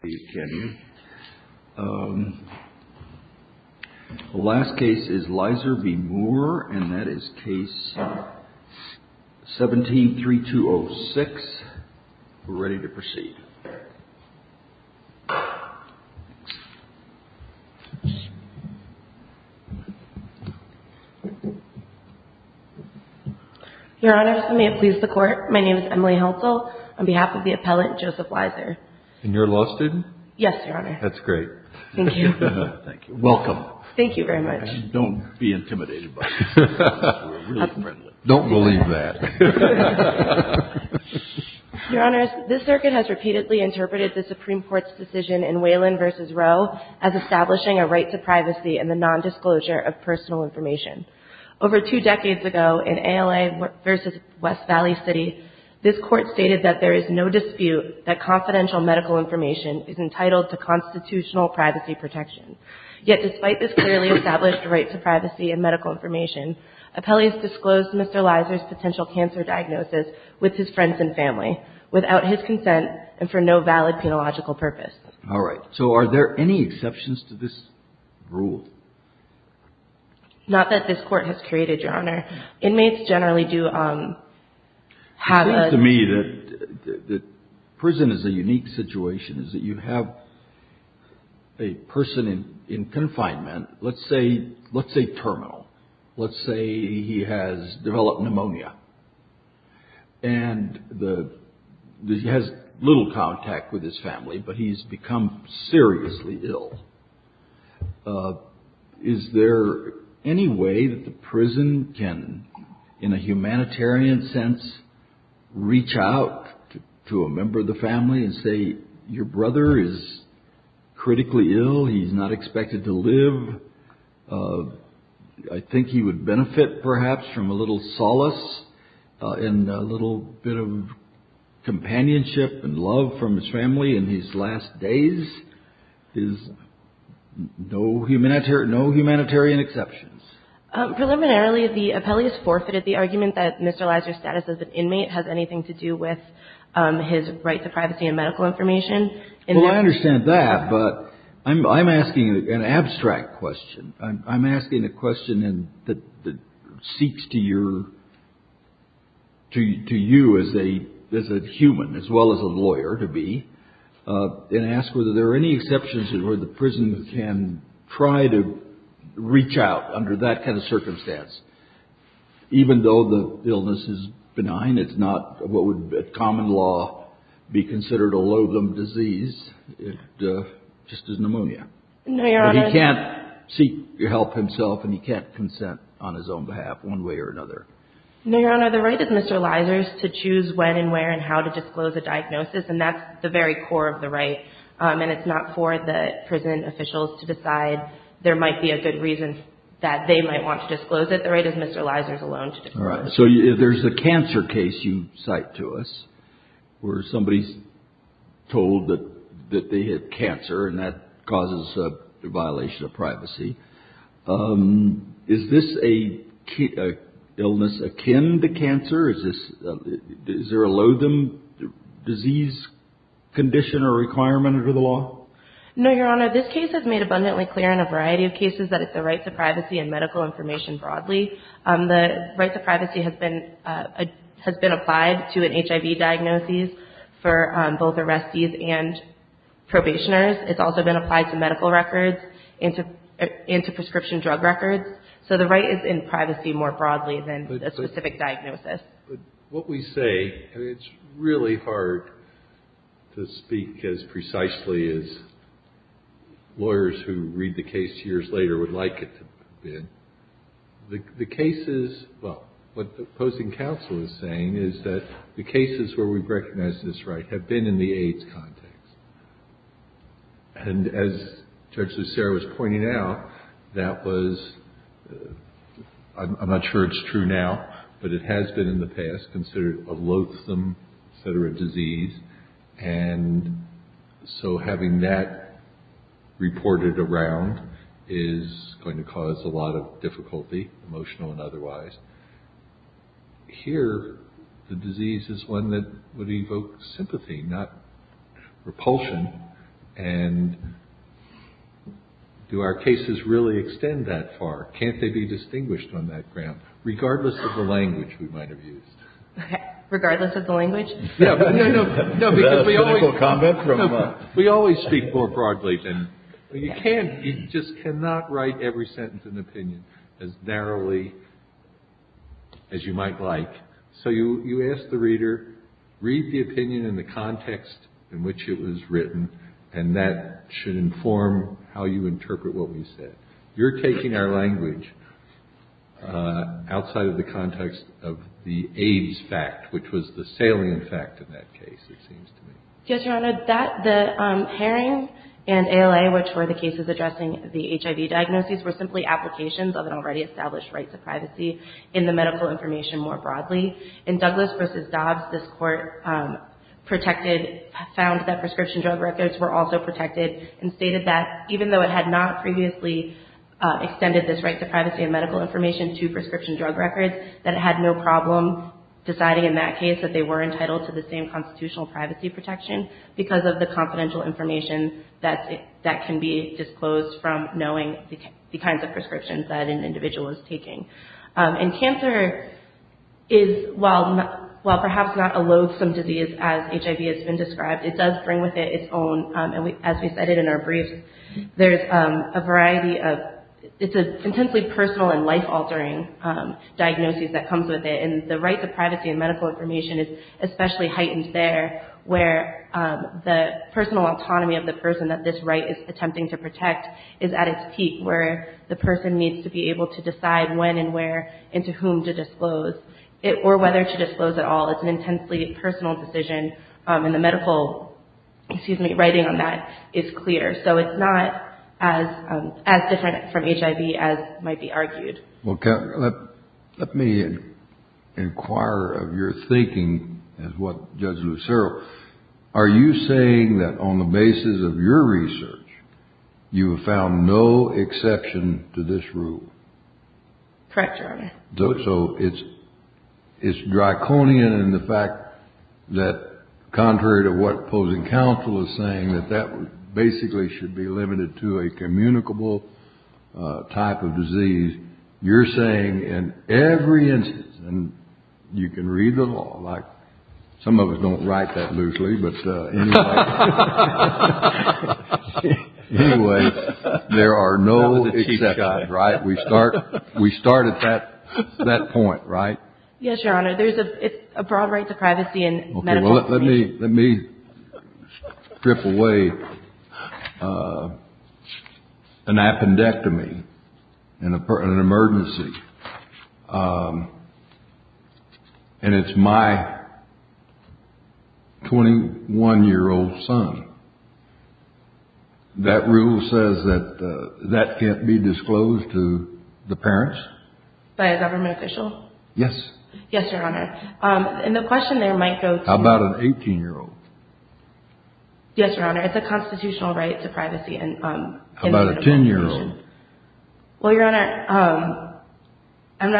The last case is Leiser v. Moore, and that is case 17-3206. We're ready to proceed. Your Honor, may it please the Court, my name is Emily Helsel on behalf of the appellant Joseph Leiser. And you're a law student? Yes, Your Honor. That's great. Thank you. Thank you. Welcome. Thank you very much. Don't be intimidated by us. We're really friendly. Don't believe that. Your Honors, this circuit has repeatedly interpreted the Supreme Court's decision in Whelan v. Roe as establishing a right to privacy and the nondisclosure of personal information. Over two decades ago in ALA v. West Valley City, this Court stated that there is no dispute that confidential medical information is entitled to constitutional privacy protection. Yet despite this clearly established right to privacy and medical information, appellees disclosed Mr. Leiser's potential cancer diagnosis with his friends and family without his consent and for no valid penological purpose. All right. So are there any exceptions to this rule? Not that this Court has created, Your Honor. Inmates generally do have a... It seems to me that prison is a unique situation, is that you have a person in confinement, let's say terminal. Let's say he has developed pneumonia. And he has little contact with his family, but he's become seriously ill. Is there any way that the prison can, in a humanitarian sense, reach out to a member of the family and say, your brother is critically ill, he's not expected to live? I think he would benefit perhaps from a little solace and a little bit of companionship and love from his family in his last days? There's no humanitarian exceptions. Preliminarily, the appellees forfeited the argument that Mr. Leiser's status as an inmate has anything to do with his right to privacy and medical information. Well, I understand that, but I'm asking an abstract question. I'm asking a question that seeks to you as a human, as well as a lawyer, to be, and ask whether there are any exceptions where the prison can try to reach out under that kind of circumstance. Even though the illness is benign, it's not what would, by common law, be considered a loathem disease, just as pneumonia. He can't seek help himself, and he can't consent on his own behalf, one way or another. No, Your Honor, the right of Mr. Leiser's to choose when and where and how to disclose a diagnosis, and that's the very core of the right. And it's not for the prison officials to decide there might be a good reason that they might want to disclose it. The right is Mr. Leiser's alone to disclose it. All right, so there's a cancer case you cite to us where somebody's told that they had cancer, and that causes a violation of privacy. Is this an illness akin to cancer? Is there a loathem disease condition or requirement under the law? No, Your Honor, this case is made abundantly clear in a variety of cases that it's the right to privacy and medical information broadly. The right to privacy has been applied to an HIV diagnosis for both arrestees and probationers. It's also been applied to medical records and to prescription drug records. So the right is in privacy more broadly than a specific diagnosis. But what we say, and it's really hard to speak as precisely as lawyers who read the case years later would like it to have been. The cases, well, what the opposing counsel is saying is that the cases where we've recognized this right have been in the AIDS context. And as Judge Lucero was pointing out, that was, I'm not sure it's true now, but it has been in the past, considered a loathsome disease. And so having that reported around is going to cause a lot of difficulty, emotional and otherwise. Here, the disease is one that would evoke sympathy, not repulsion. And do our cases really extend that far? Can't they be distinguished on that ground, regardless of the language we might have used? Regardless of the language? No, no, no. Is that a cynical comment from a... We always speak more broadly than... Well, you can't, you just cannot write every sentence in opinion as narrowly as you might like. So you ask the reader, read the opinion in the context in which it was written, and that should inform how you interpret what we said. You're taking our language outside of the context of the AIDS fact, which was the salient fact in that case, it seems to me. Yes, Your Honor, the Haring and ALA, which were the cases addressing the HIV diagnoses, were simply applications of an already established right to privacy in the medical information more broadly. In Douglas v. Dobbs, this Court found that prescription drug records were also protected, and stated that even though it had not previously extended this right to privacy in medical information to prescription drug records, that it had no problem deciding in that case that they were entitled to the same constitutional privacy protection because of the confidential information that can be disclosed from knowing the kinds of prescriptions that an individual is taking. And cancer is, while perhaps not a loathsome disease as HIV has been described, it does bring with it its own, and as we cited in our brief, there's a variety of, it's an intensely personal and life-altering diagnosis that comes with it, and the right to privacy in medical information is especially heightened there, where the personal autonomy of the person that this right is attempting to protect is at its peak, where the person needs to be able to decide when and where and to whom to disclose, or whether to disclose at all. It's an intensely personal decision, and the medical, excuse me, writing on that is clear. So it's not as different from HIV as might be argued. Well, let me inquire of your thinking as what Judge Lucero. Are you saying that on the basis of your research, you have found no exception to this rule? Correct, Your Honor. So it's draconian in the fact that contrary to what opposing counsel is saying, that that basically should be limited to a communicable type of disease. You're saying in every instance, and you can read the law, like some of us don't write that loosely, but anyway. There are no exceptions, right? We start at that point, right? Yes, Your Honor. It's a broad right to privacy in medical information. Let me strip away an appendectomy in an emergency, and it's my 21-year-old son. That rule says that that can't be disclosed to the parents? By a government official? Yes. Yes, Your Honor. And the question there might go to... How about an 18-year-old? Yes, Your Honor. It's a constitutional right to privacy in medical information. How about a 10-year-old? Well, Your Honor, I'm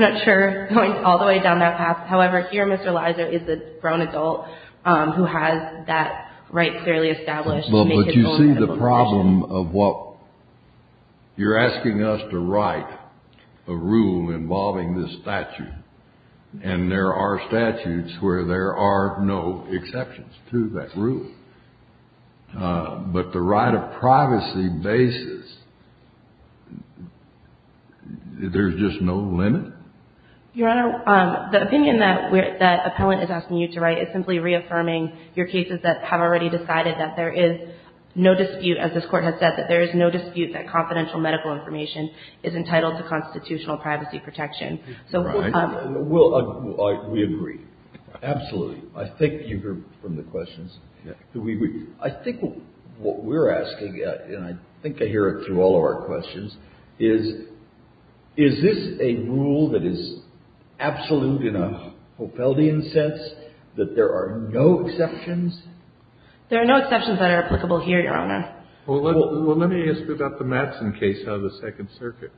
not sure going all the way down that path. However, here Mr. Leiser is a grown adult who has that right clearly established. But you see the problem of what you're asking us to write, a rule involving this statute, and there are statutes where there are no exceptions to that rule. But the right of privacy basis, there's just no limit? Your Honor, the opinion that appellant is asking you to write is simply reaffirming your cases that have already decided that there is no dispute, as this Court has said, that there is no dispute that confidential medical information is entitled to constitutional privacy protection. Right. We agree. Absolutely. I think you heard from the questions. I think what we're asking, and I think I hear it through all of our questions, is, is this a rule that is absolute in a Hoppelian sense, that there are no exceptions? There are no exceptions that are applicable here, Your Honor. Well, let me ask you about the Matson case out of the Second Circuit,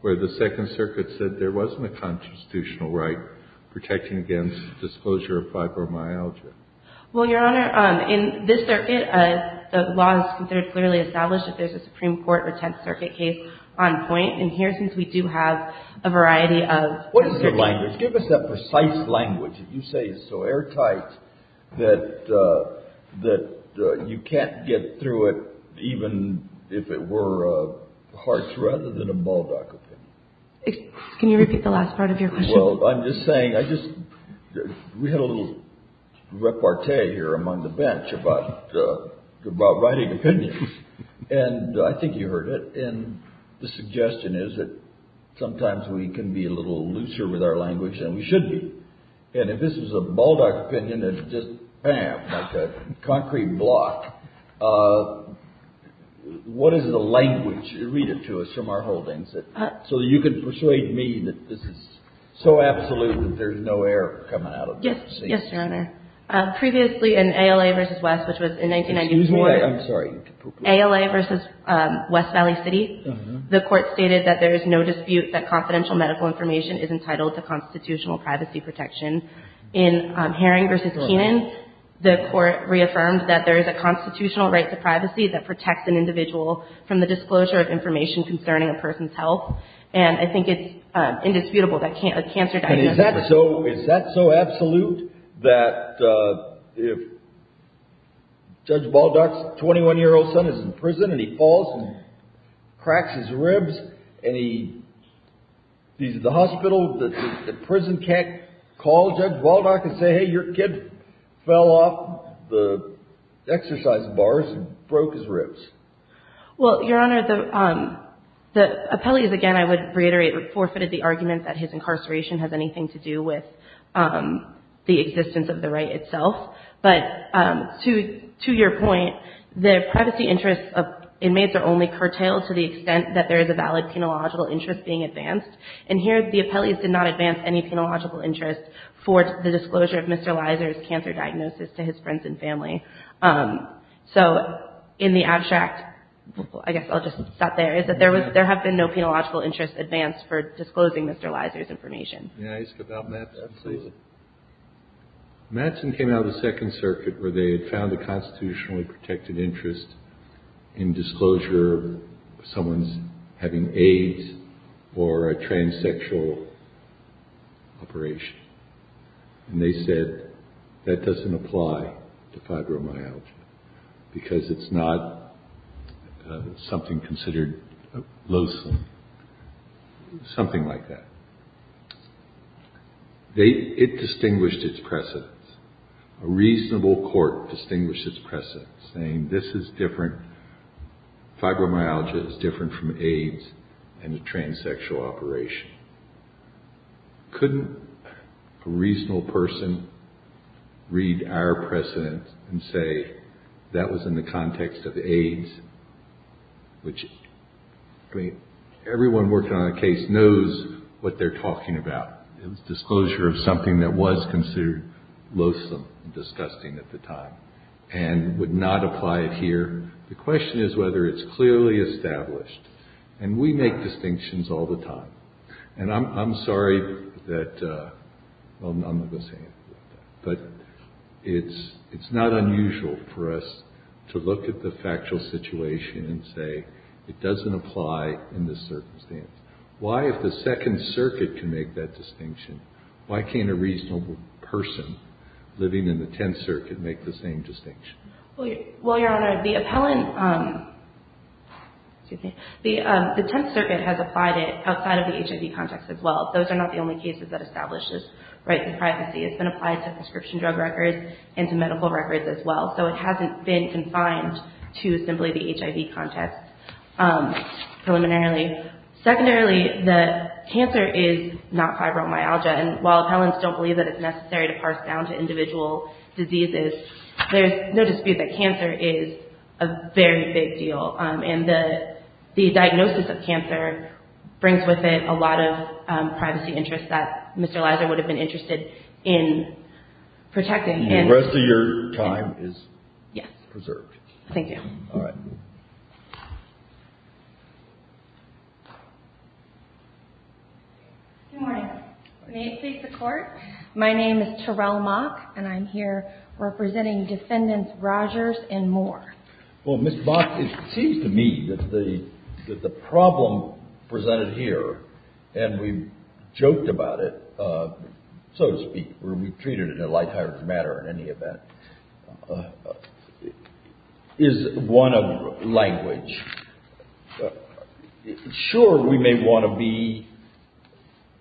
where the Second Circuit said there wasn't a constitutional right protecting against disclosure of fibromyalgia. Well, Your Honor, in this circuit, the law is considered clearly established that there's a Supreme Court or Tenth Circuit case on point. And here, since we do have a variety of different languages. What is the language? Give us that precise language that you say is so airtight that you can't get through it, even if it were a Hartz rather than a Baldock opinion. Can you repeat the last part of your question? Well, I'm just saying, we had a little repartee here among the bench about writing opinions. And I think you heard it. And the suggestion is that sometimes we can be a little looser with our language than we should be. And if this was a Baldock opinion, it's just bam, like a concrete block. What is the language? Read it to us from our holdings, so you can persuade me that this is so absolute that there's no error coming out of this. Yes, Your Honor. Previously in ALA v. West, which was in 1993. Excuse me. I'm sorry. ALA v. West Valley City. The court stated that there is no dispute that confidential medical information is entitled to constitutional privacy protection. In Herring v. Kenan, the court reaffirmed that there is a constitutional right to privacy that protects an individual from the disclosure of information concerning a person's health. And I think it's indisputable that a cancer diagnosis. Is that so absolute that if Judge Baldock's 21-year-old son is in prison and he falls and cracks his ribs and he's at the hospital, the prison can't call Judge Baldock and say, hey, your kid fell off the exercise bars and broke his ribs? Well, Your Honor, the appellees, again, I would reiterate, forfeited the argument that his incarceration has anything to do with the existence of the right itself. But to your point, the privacy interests of inmates are only curtailed to the extent that there is a valid penological interest being advanced. And here the appellees did not advance any penological interest for the disclosure of Mr. Leiser's cancer diagnosis to his friends and family. So in the abstract, I guess I'll just stop there, is that there have been no penological interests advanced for disclosing Mr. Leiser's information. May I ask about Mattson, please? Absolutely. Mattson came out of the Second Circuit where they had found a constitutionally protected interest in disclosure of someone's having AIDS or a fibromyalgia because it's not something considered loathsome, something like that. It distinguished its precedents. A reasonable court distinguished its precedents, saying this is different. Fibromyalgia is different from AIDS and a transsexual operation. Couldn't a reasonable person read our precedents and say that was in the context of AIDS? Which, I mean, everyone working on a case knows what they're talking about. It was disclosure of something that was considered loathsome and disgusting at the time and would not apply it here. The question is whether it's clearly established. And we make distinctions all the time. And I'm sorry that – well, I'm not going to say anything about that. But it's not unusual for us to look at the factual situation and say it doesn't apply in this circumstance. Why, if the Second Circuit can make that distinction, why can't a reasonable person living in the Tenth Circuit make the same distinction? Well, Your Honor, the appellant – excuse me – the Tenth Circuit has applied it outside of the HIV context as well. Those are not the only cases that establish this right to privacy. It's been applied to prescription drug records and to medical records as well. So it hasn't been confined to simply the HIV context preliminarily. Secondarily, the cancer is not fibromyalgia. And while appellants don't believe that it's necessary to parse down to individual diseases, there's no dispute that cancer is a very big deal. And the diagnosis of cancer brings with it a lot of privacy interests that Mr. Leiser would have been interested in protecting. And the rest of your time is preserved. Yes. Thank you. All right. Good morning. May it please the Court? My name is Terrell Mock, and I'm here representing Defendants Rogers and Moore. Well, Ms. Mock, it seems to me that the problem presented here, and we've joked about it, so to speak, where we've treated it in a light-hearted manner in any event, is one of language. Sure, we may want to be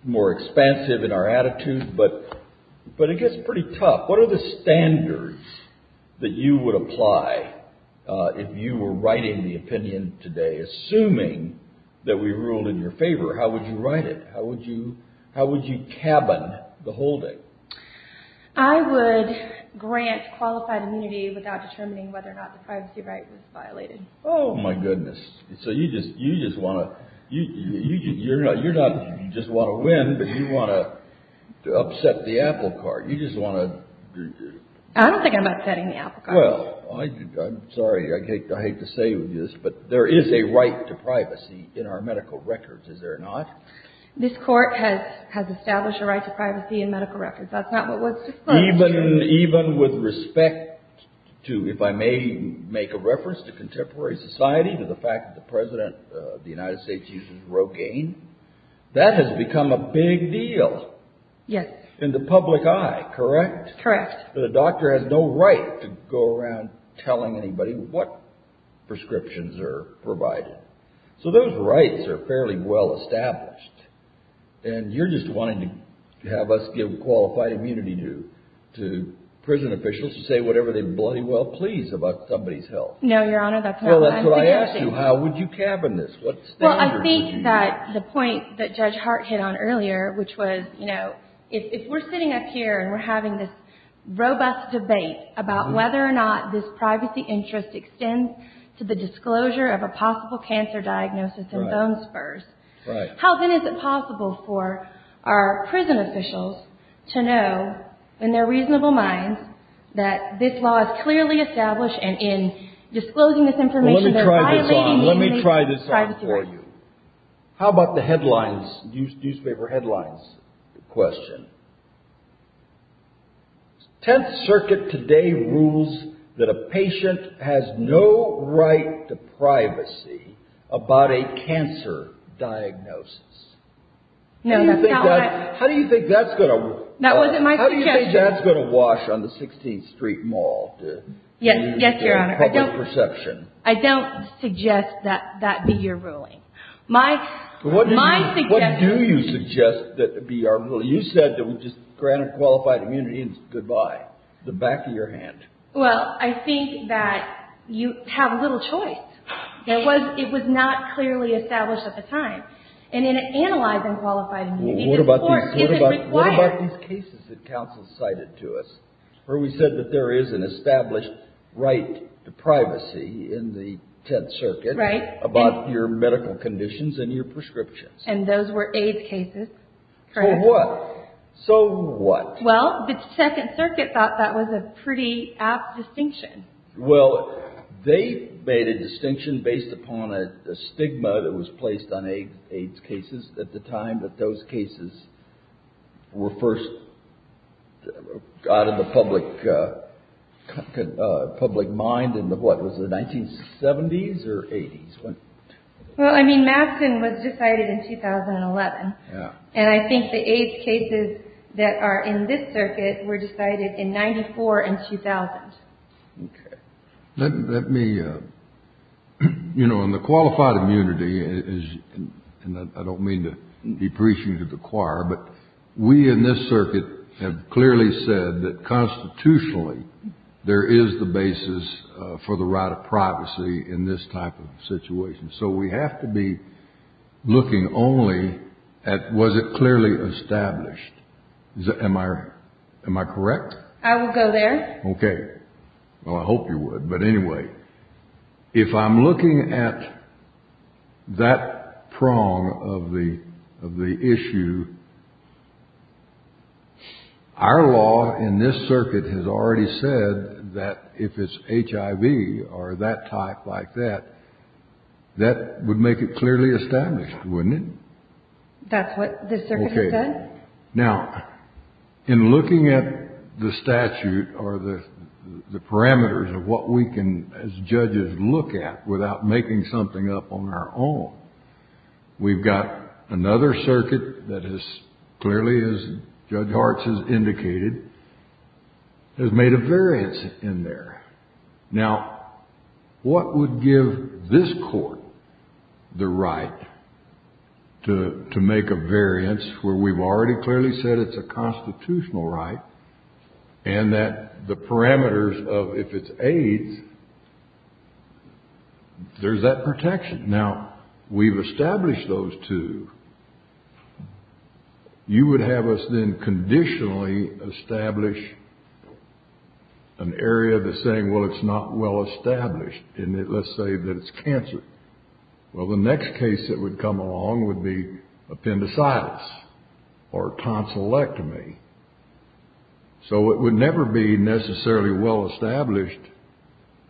more expansive in our attitude, but it gets pretty tough. What are the standards that you would apply if you were writing the opinion today, assuming that we ruled in your favor? How would you write it? How would you cabin the whole thing? I would grant qualified immunity without determining whether or not the privacy right was violated. Oh, my goodness. So you just want to—you're not—you just want to win, but you want to upset the apple cart. You just want to— I don't think I'm upsetting the apple cart. Well, I'm sorry. I hate to say this, but there is a right to privacy in our medical records, is there not? This Court has established a right to privacy in medical records. That's not what was disclosed. Even with respect to—if I may make a reference to contemporary society, to the fact that the President of the United States uses Rogaine? That has become a big deal. Yes. In the public eye, correct? Correct. But a doctor has no right to go around telling anybody what prescriptions are provided. So those rights are fairly well established. And you're just wanting to have us give qualified immunity to prison officials to say whatever they bloody well please about somebody's health. No, Your Honor, that's not what I'm suggesting. Well, that's what I asked you. What standards would you have? I think that the point that Judge Hart hit on earlier, which was, you know, if we're sitting up here and we're having this robust debate about whether or not this privacy interest extends to the disclosure of a possible cancer diagnosis and bone spurs, how then is it possible for our prison officials to know, in their reasonable minds, that this law is clearly established and in disclosing this information they're violating— Let me try this on. How about the headlines, newspaper headlines question? Tenth Circuit today rules that a patient has no right to privacy about a cancer diagnosis. No, that's not what I— How do you think that's going to— That wasn't my suggestion. How do you think that's going to wash on the 16th Street Mall? Yes, Your Honor. Public perception. I don't suggest that that be your ruling. My suggestion— What do you suggest that be our ruling? You said that we just granted qualified immunity and goodbye, the back of your hand. Well, I think that you have little choice. It was not clearly established at the time. And in analyzing qualified immunity, the court isn't required— Right. About your medical conditions and your prescriptions. And those were AIDS cases. So what? So what? Well, the Second Circuit thought that was a pretty apt distinction. Well, they made a distinction based upon a stigma that was placed on AIDS cases at the time that those cases were first got in the public mind in the, what, was it 1970s or 80s? Well, I mean, Mastin was decided in 2011. Yeah. And I think the AIDS cases that are in this circuit were decided in 1994 and 2000. Okay. Let me—you know, in the qualified immunity, and I don't mean to be preaching to the choir, but we in this circuit have clearly said that constitutionally there is the basis for the right of privacy in this type of situation. So we have to be looking only at was it clearly established. Am I correct? I will go there. Okay. Well, I hope you would. If I'm looking at that prong of the issue, our law in this circuit has already said that if it's HIV or that type like that, that would make it clearly established, wouldn't it? That's what the circuit has said? Now, in looking at the statute or the parameters of what we can, as judges, look at without making something up on our own, we've got another circuit that has clearly, as Judge Hartz has indicated, has made a variance in there. Now, what would give this court the right to make a variance where we've already clearly said it's a constitutional right and that the parameters of if it's AIDS, there's that protection. Now, we've established those two. You would have us then conditionally establish an area that's saying, well, it's not well established. Let's say that it's cancer. Well, the next case that would come along would be appendicitis or tonsillectomy. So it would never be necessarily well established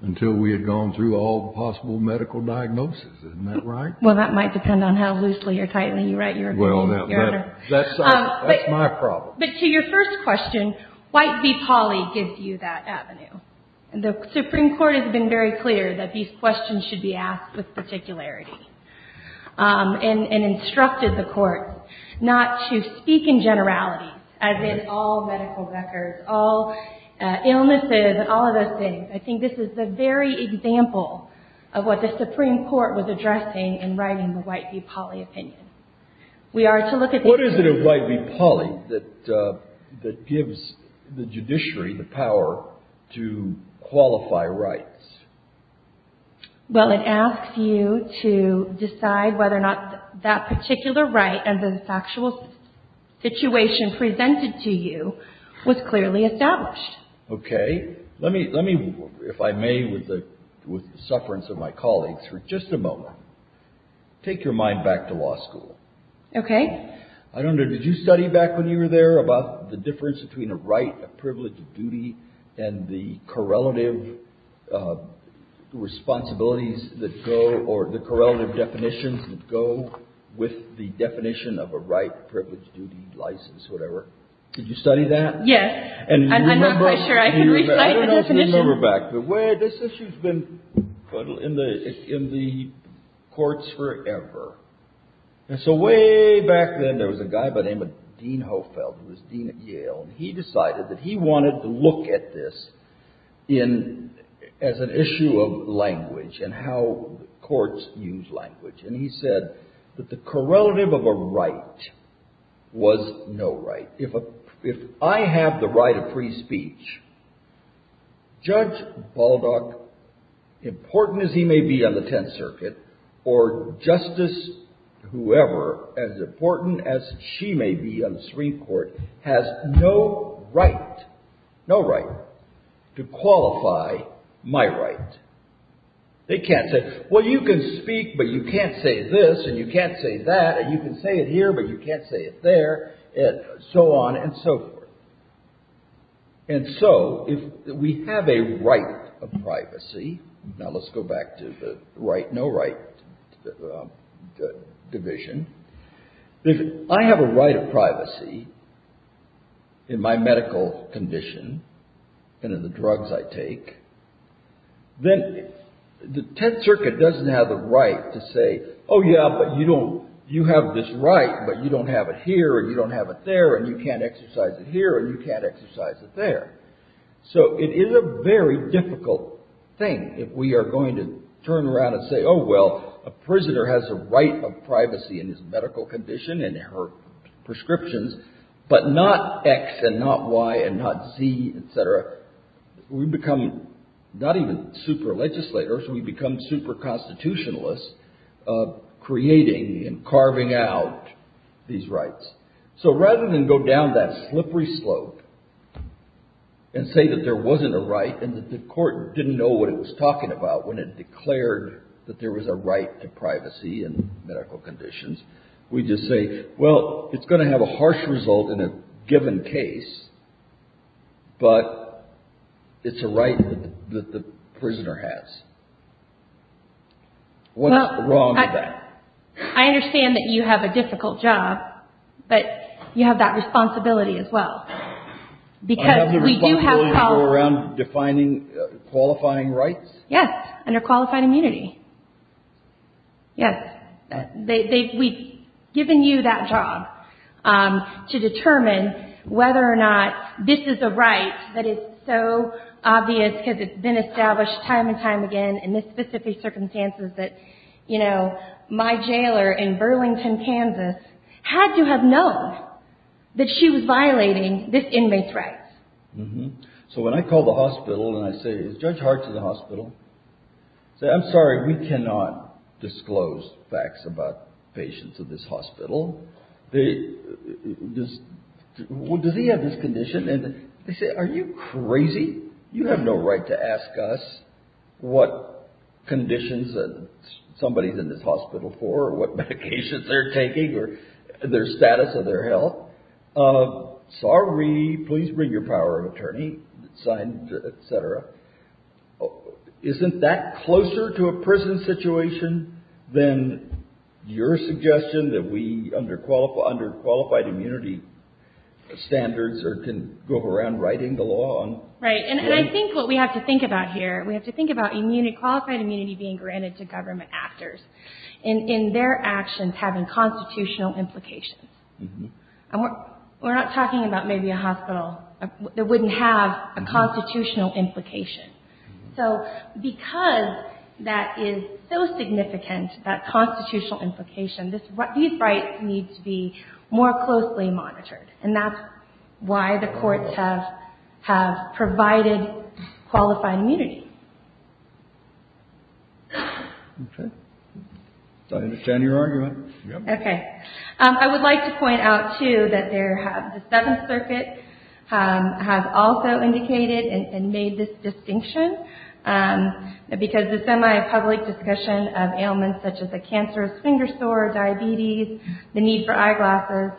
until we had gone through all possible medical diagnosis. Isn't that right? Well, that might depend on how loosely or tightly you write your opinion, Your Honor. Well, that's my problem. But to your first question, White v. Pauley gives you that avenue. The Supreme Court has been very clear that these questions should be asked with particularity, and instructed the courts not to speak in generality, as in all medical records, all illnesses, all of those things. I think this is the very example of what the Supreme Court was addressing in writing the White v. Pauley opinion. What is it in White v. Pauley that gives the judiciary the power to qualify rights? Well, it asks you to decide whether or not that particular right and the factual situation presented to you was clearly established. Okay. Let me, if I may, with the sufferance of my colleagues, for just a moment, take your mind back to law school. Okay. I don't know. Did you study back when you were there about the difference between a right, a privilege, a duty, and the correlative responsibilities that go or the correlative definitions that go with the definition of a right, privilege, duty, license, whatever? Did you study that? Yes. I'm not quite sure I can reflect the definition. I don't know if you remember back, but this issue's been in the courts forever. And so way back then, there was a guy by the name of Dean Hofeld, who was dean at Yale, and he decided that he wanted to look at this as an issue of language and how courts use language. And he said that the correlative of a right was no right. If I have the right of free speech, Judge Baldock, important as he may be on the Tenth Circuit, or Justice whoever, as important as she may be on the Supreme Court, has no right, no right, to qualify my right. They can't say, well, you can speak, but you can't say this, and you can't say that, and you can say it here, but you can't say it there, and so on and so forth. And so if we have a right of privacy, now let's go back to the right, no right division. If I have a right of privacy in my medical condition and in the drugs I take, then the Tenth Circuit doesn't have the right to say, oh, yeah, but you have this right, but you don't have it here, or you don't have it there, and you can't exercise it here, or you can't exercise it there. So it is a very difficult thing if we are going to turn around and say, oh, well, a prisoner has a right of privacy in his medical condition and her prescriptions, but not X and not Y and not Z, etc. We become not even super legislators, we become super constitutionalists, creating and carving out these rights. So rather than go down that slippery slope and say that there wasn't a right and that the court didn't know what it was talking about when it declared that there was a right to privacy in medical conditions, we just say, well, it's going to have a harsh result in a given case, but it's a right that the prisoner has. What's wrong with that? I understand that you have a difficult job, but you have that responsibility as well. I have the responsibility to go around defining qualifying rights? Yes, under qualified immunity. Yes. We've given you that job to determine whether or not this is a right that is so obvious because it's been established time and time again in this specific circumstances that my jailer in Burlington, Kansas, had to have known that she was violating this inmate's rights. So when I call the hospital and I say, is Judge Hart at the hospital? I say, I'm sorry, we cannot disclose facts about patients at this hospital. Does he have this condition? They say, are you crazy? You have no right to ask us what conditions somebody's in this hospital for or what medications they're taking or their status or their health. Sorry, please bring your power of attorney, sign, et cetera. Isn't that closer to a prison situation than your suggestion that we, under qualified immunity standards, can go around writing the law? Right, and I think what we have to think about here, we have to think about qualified immunity being granted to government actors and their actions having constitutional implications. We're not talking about maybe a hospital that wouldn't have a constitutional implication. So because that is so significant, that constitutional implication, these rights need to be more closely monitored. And that's why the courts have provided qualified immunity. Okay. I understand your argument. Okay. I would like to point out, too, that the Seventh Circuit has also indicated and made this distinction. Because the semi-public discussion of ailments such as a cancerous finger sore, diabetes, the need for eyeglasses,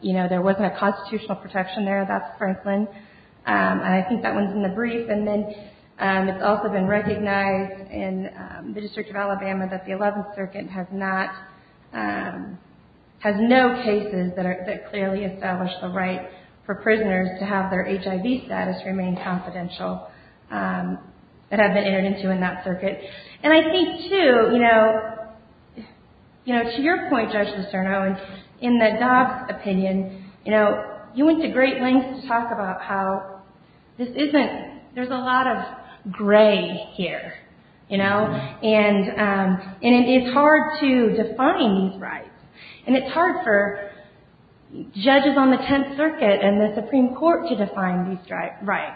you know, there wasn't a constitutional protection there. That's Franklin. And I think that one's in the brief. And then it's also been recognized in the District of Alabama that the Eleventh Circuit has not, has no cases that clearly establish the right for prisoners to have their HIV status remain confidential that have been entered into in that circuit. And I think, too, you know, you know, to your point, Judge Lucerno, in the Dobbs opinion, you know, you went to great lengths to talk about how this isn't, there's a lot of gray here, you know. And it's hard to define these rights. And it's hard for judges on the Tenth Circuit and the Supreme Court to define these rights.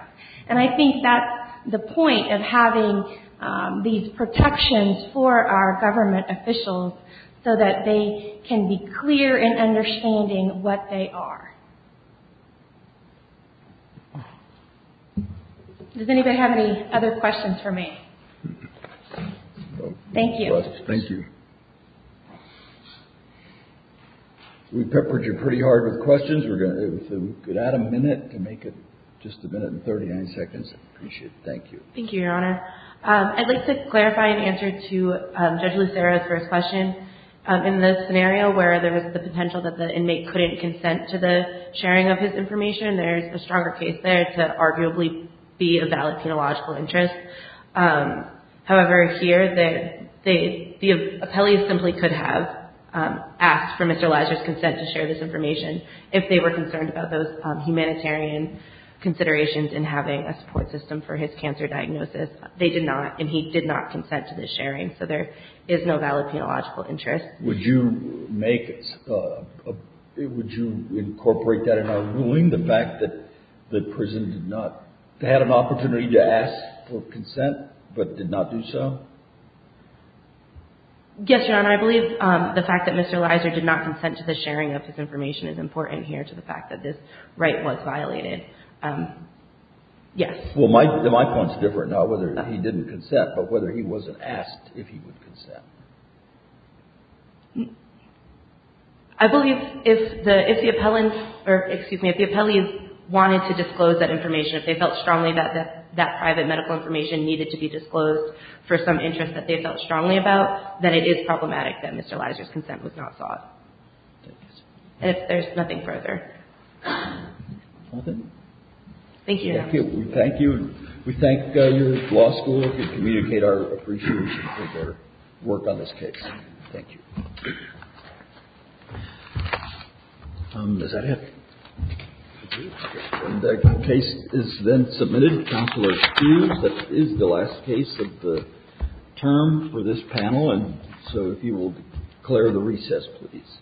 And I think that's the point of having these protections for our government officials so that they can be clear in understanding what they are. Does anybody have any other questions for me? Thank you. Thank you. We've peppered you pretty hard with questions. We could add a minute to make it just a minute and 39 seconds. I appreciate it. Thank you. Thank you, Your Honor. I'd like to clarify an answer to Judge Lucerno's first question. In the scenario where there was the potential that the inmate couldn't consent to the sharing of his information, there's a stronger case there to arguably be a valid penological interest. However, here, the appellee simply could have asked for Mr. Leiser's consent to share this information if they were concerned about those humanitarian considerations in having a support system for his cancer diagnosis. They did not, and he did not consent to this sharing. So there is no valid penological interest. Would you incorporate that in our ruling, the fact that the prison had an opportunity to ask for consent but did not do so? Yes, Your Honor. I believe the fact that Mr. Leiser did not consent to the sharing of his information is important here to the fact that this right was violated. Yes. Well, my point's different, not whether he didn't consent, but whether he wasn't asked if he would consent. I believe if the appellant, or excuse me, if the appellee wanted to disclose that information, if they felt strongly that that private medical information needed to be disclosed for some interest that they felt strongly about, then it is problematic that Mr. Leiser's consent was not sought. And if there's nothing further. Thank you, Your Honor. Thank you. And we thank your law school for communicating our appreciation for their work on this case. Thank you. Does that have it? The case is then submitted to Counselor Hughes. That is the last case of the term for this panel. And so if you will declare the recess, please.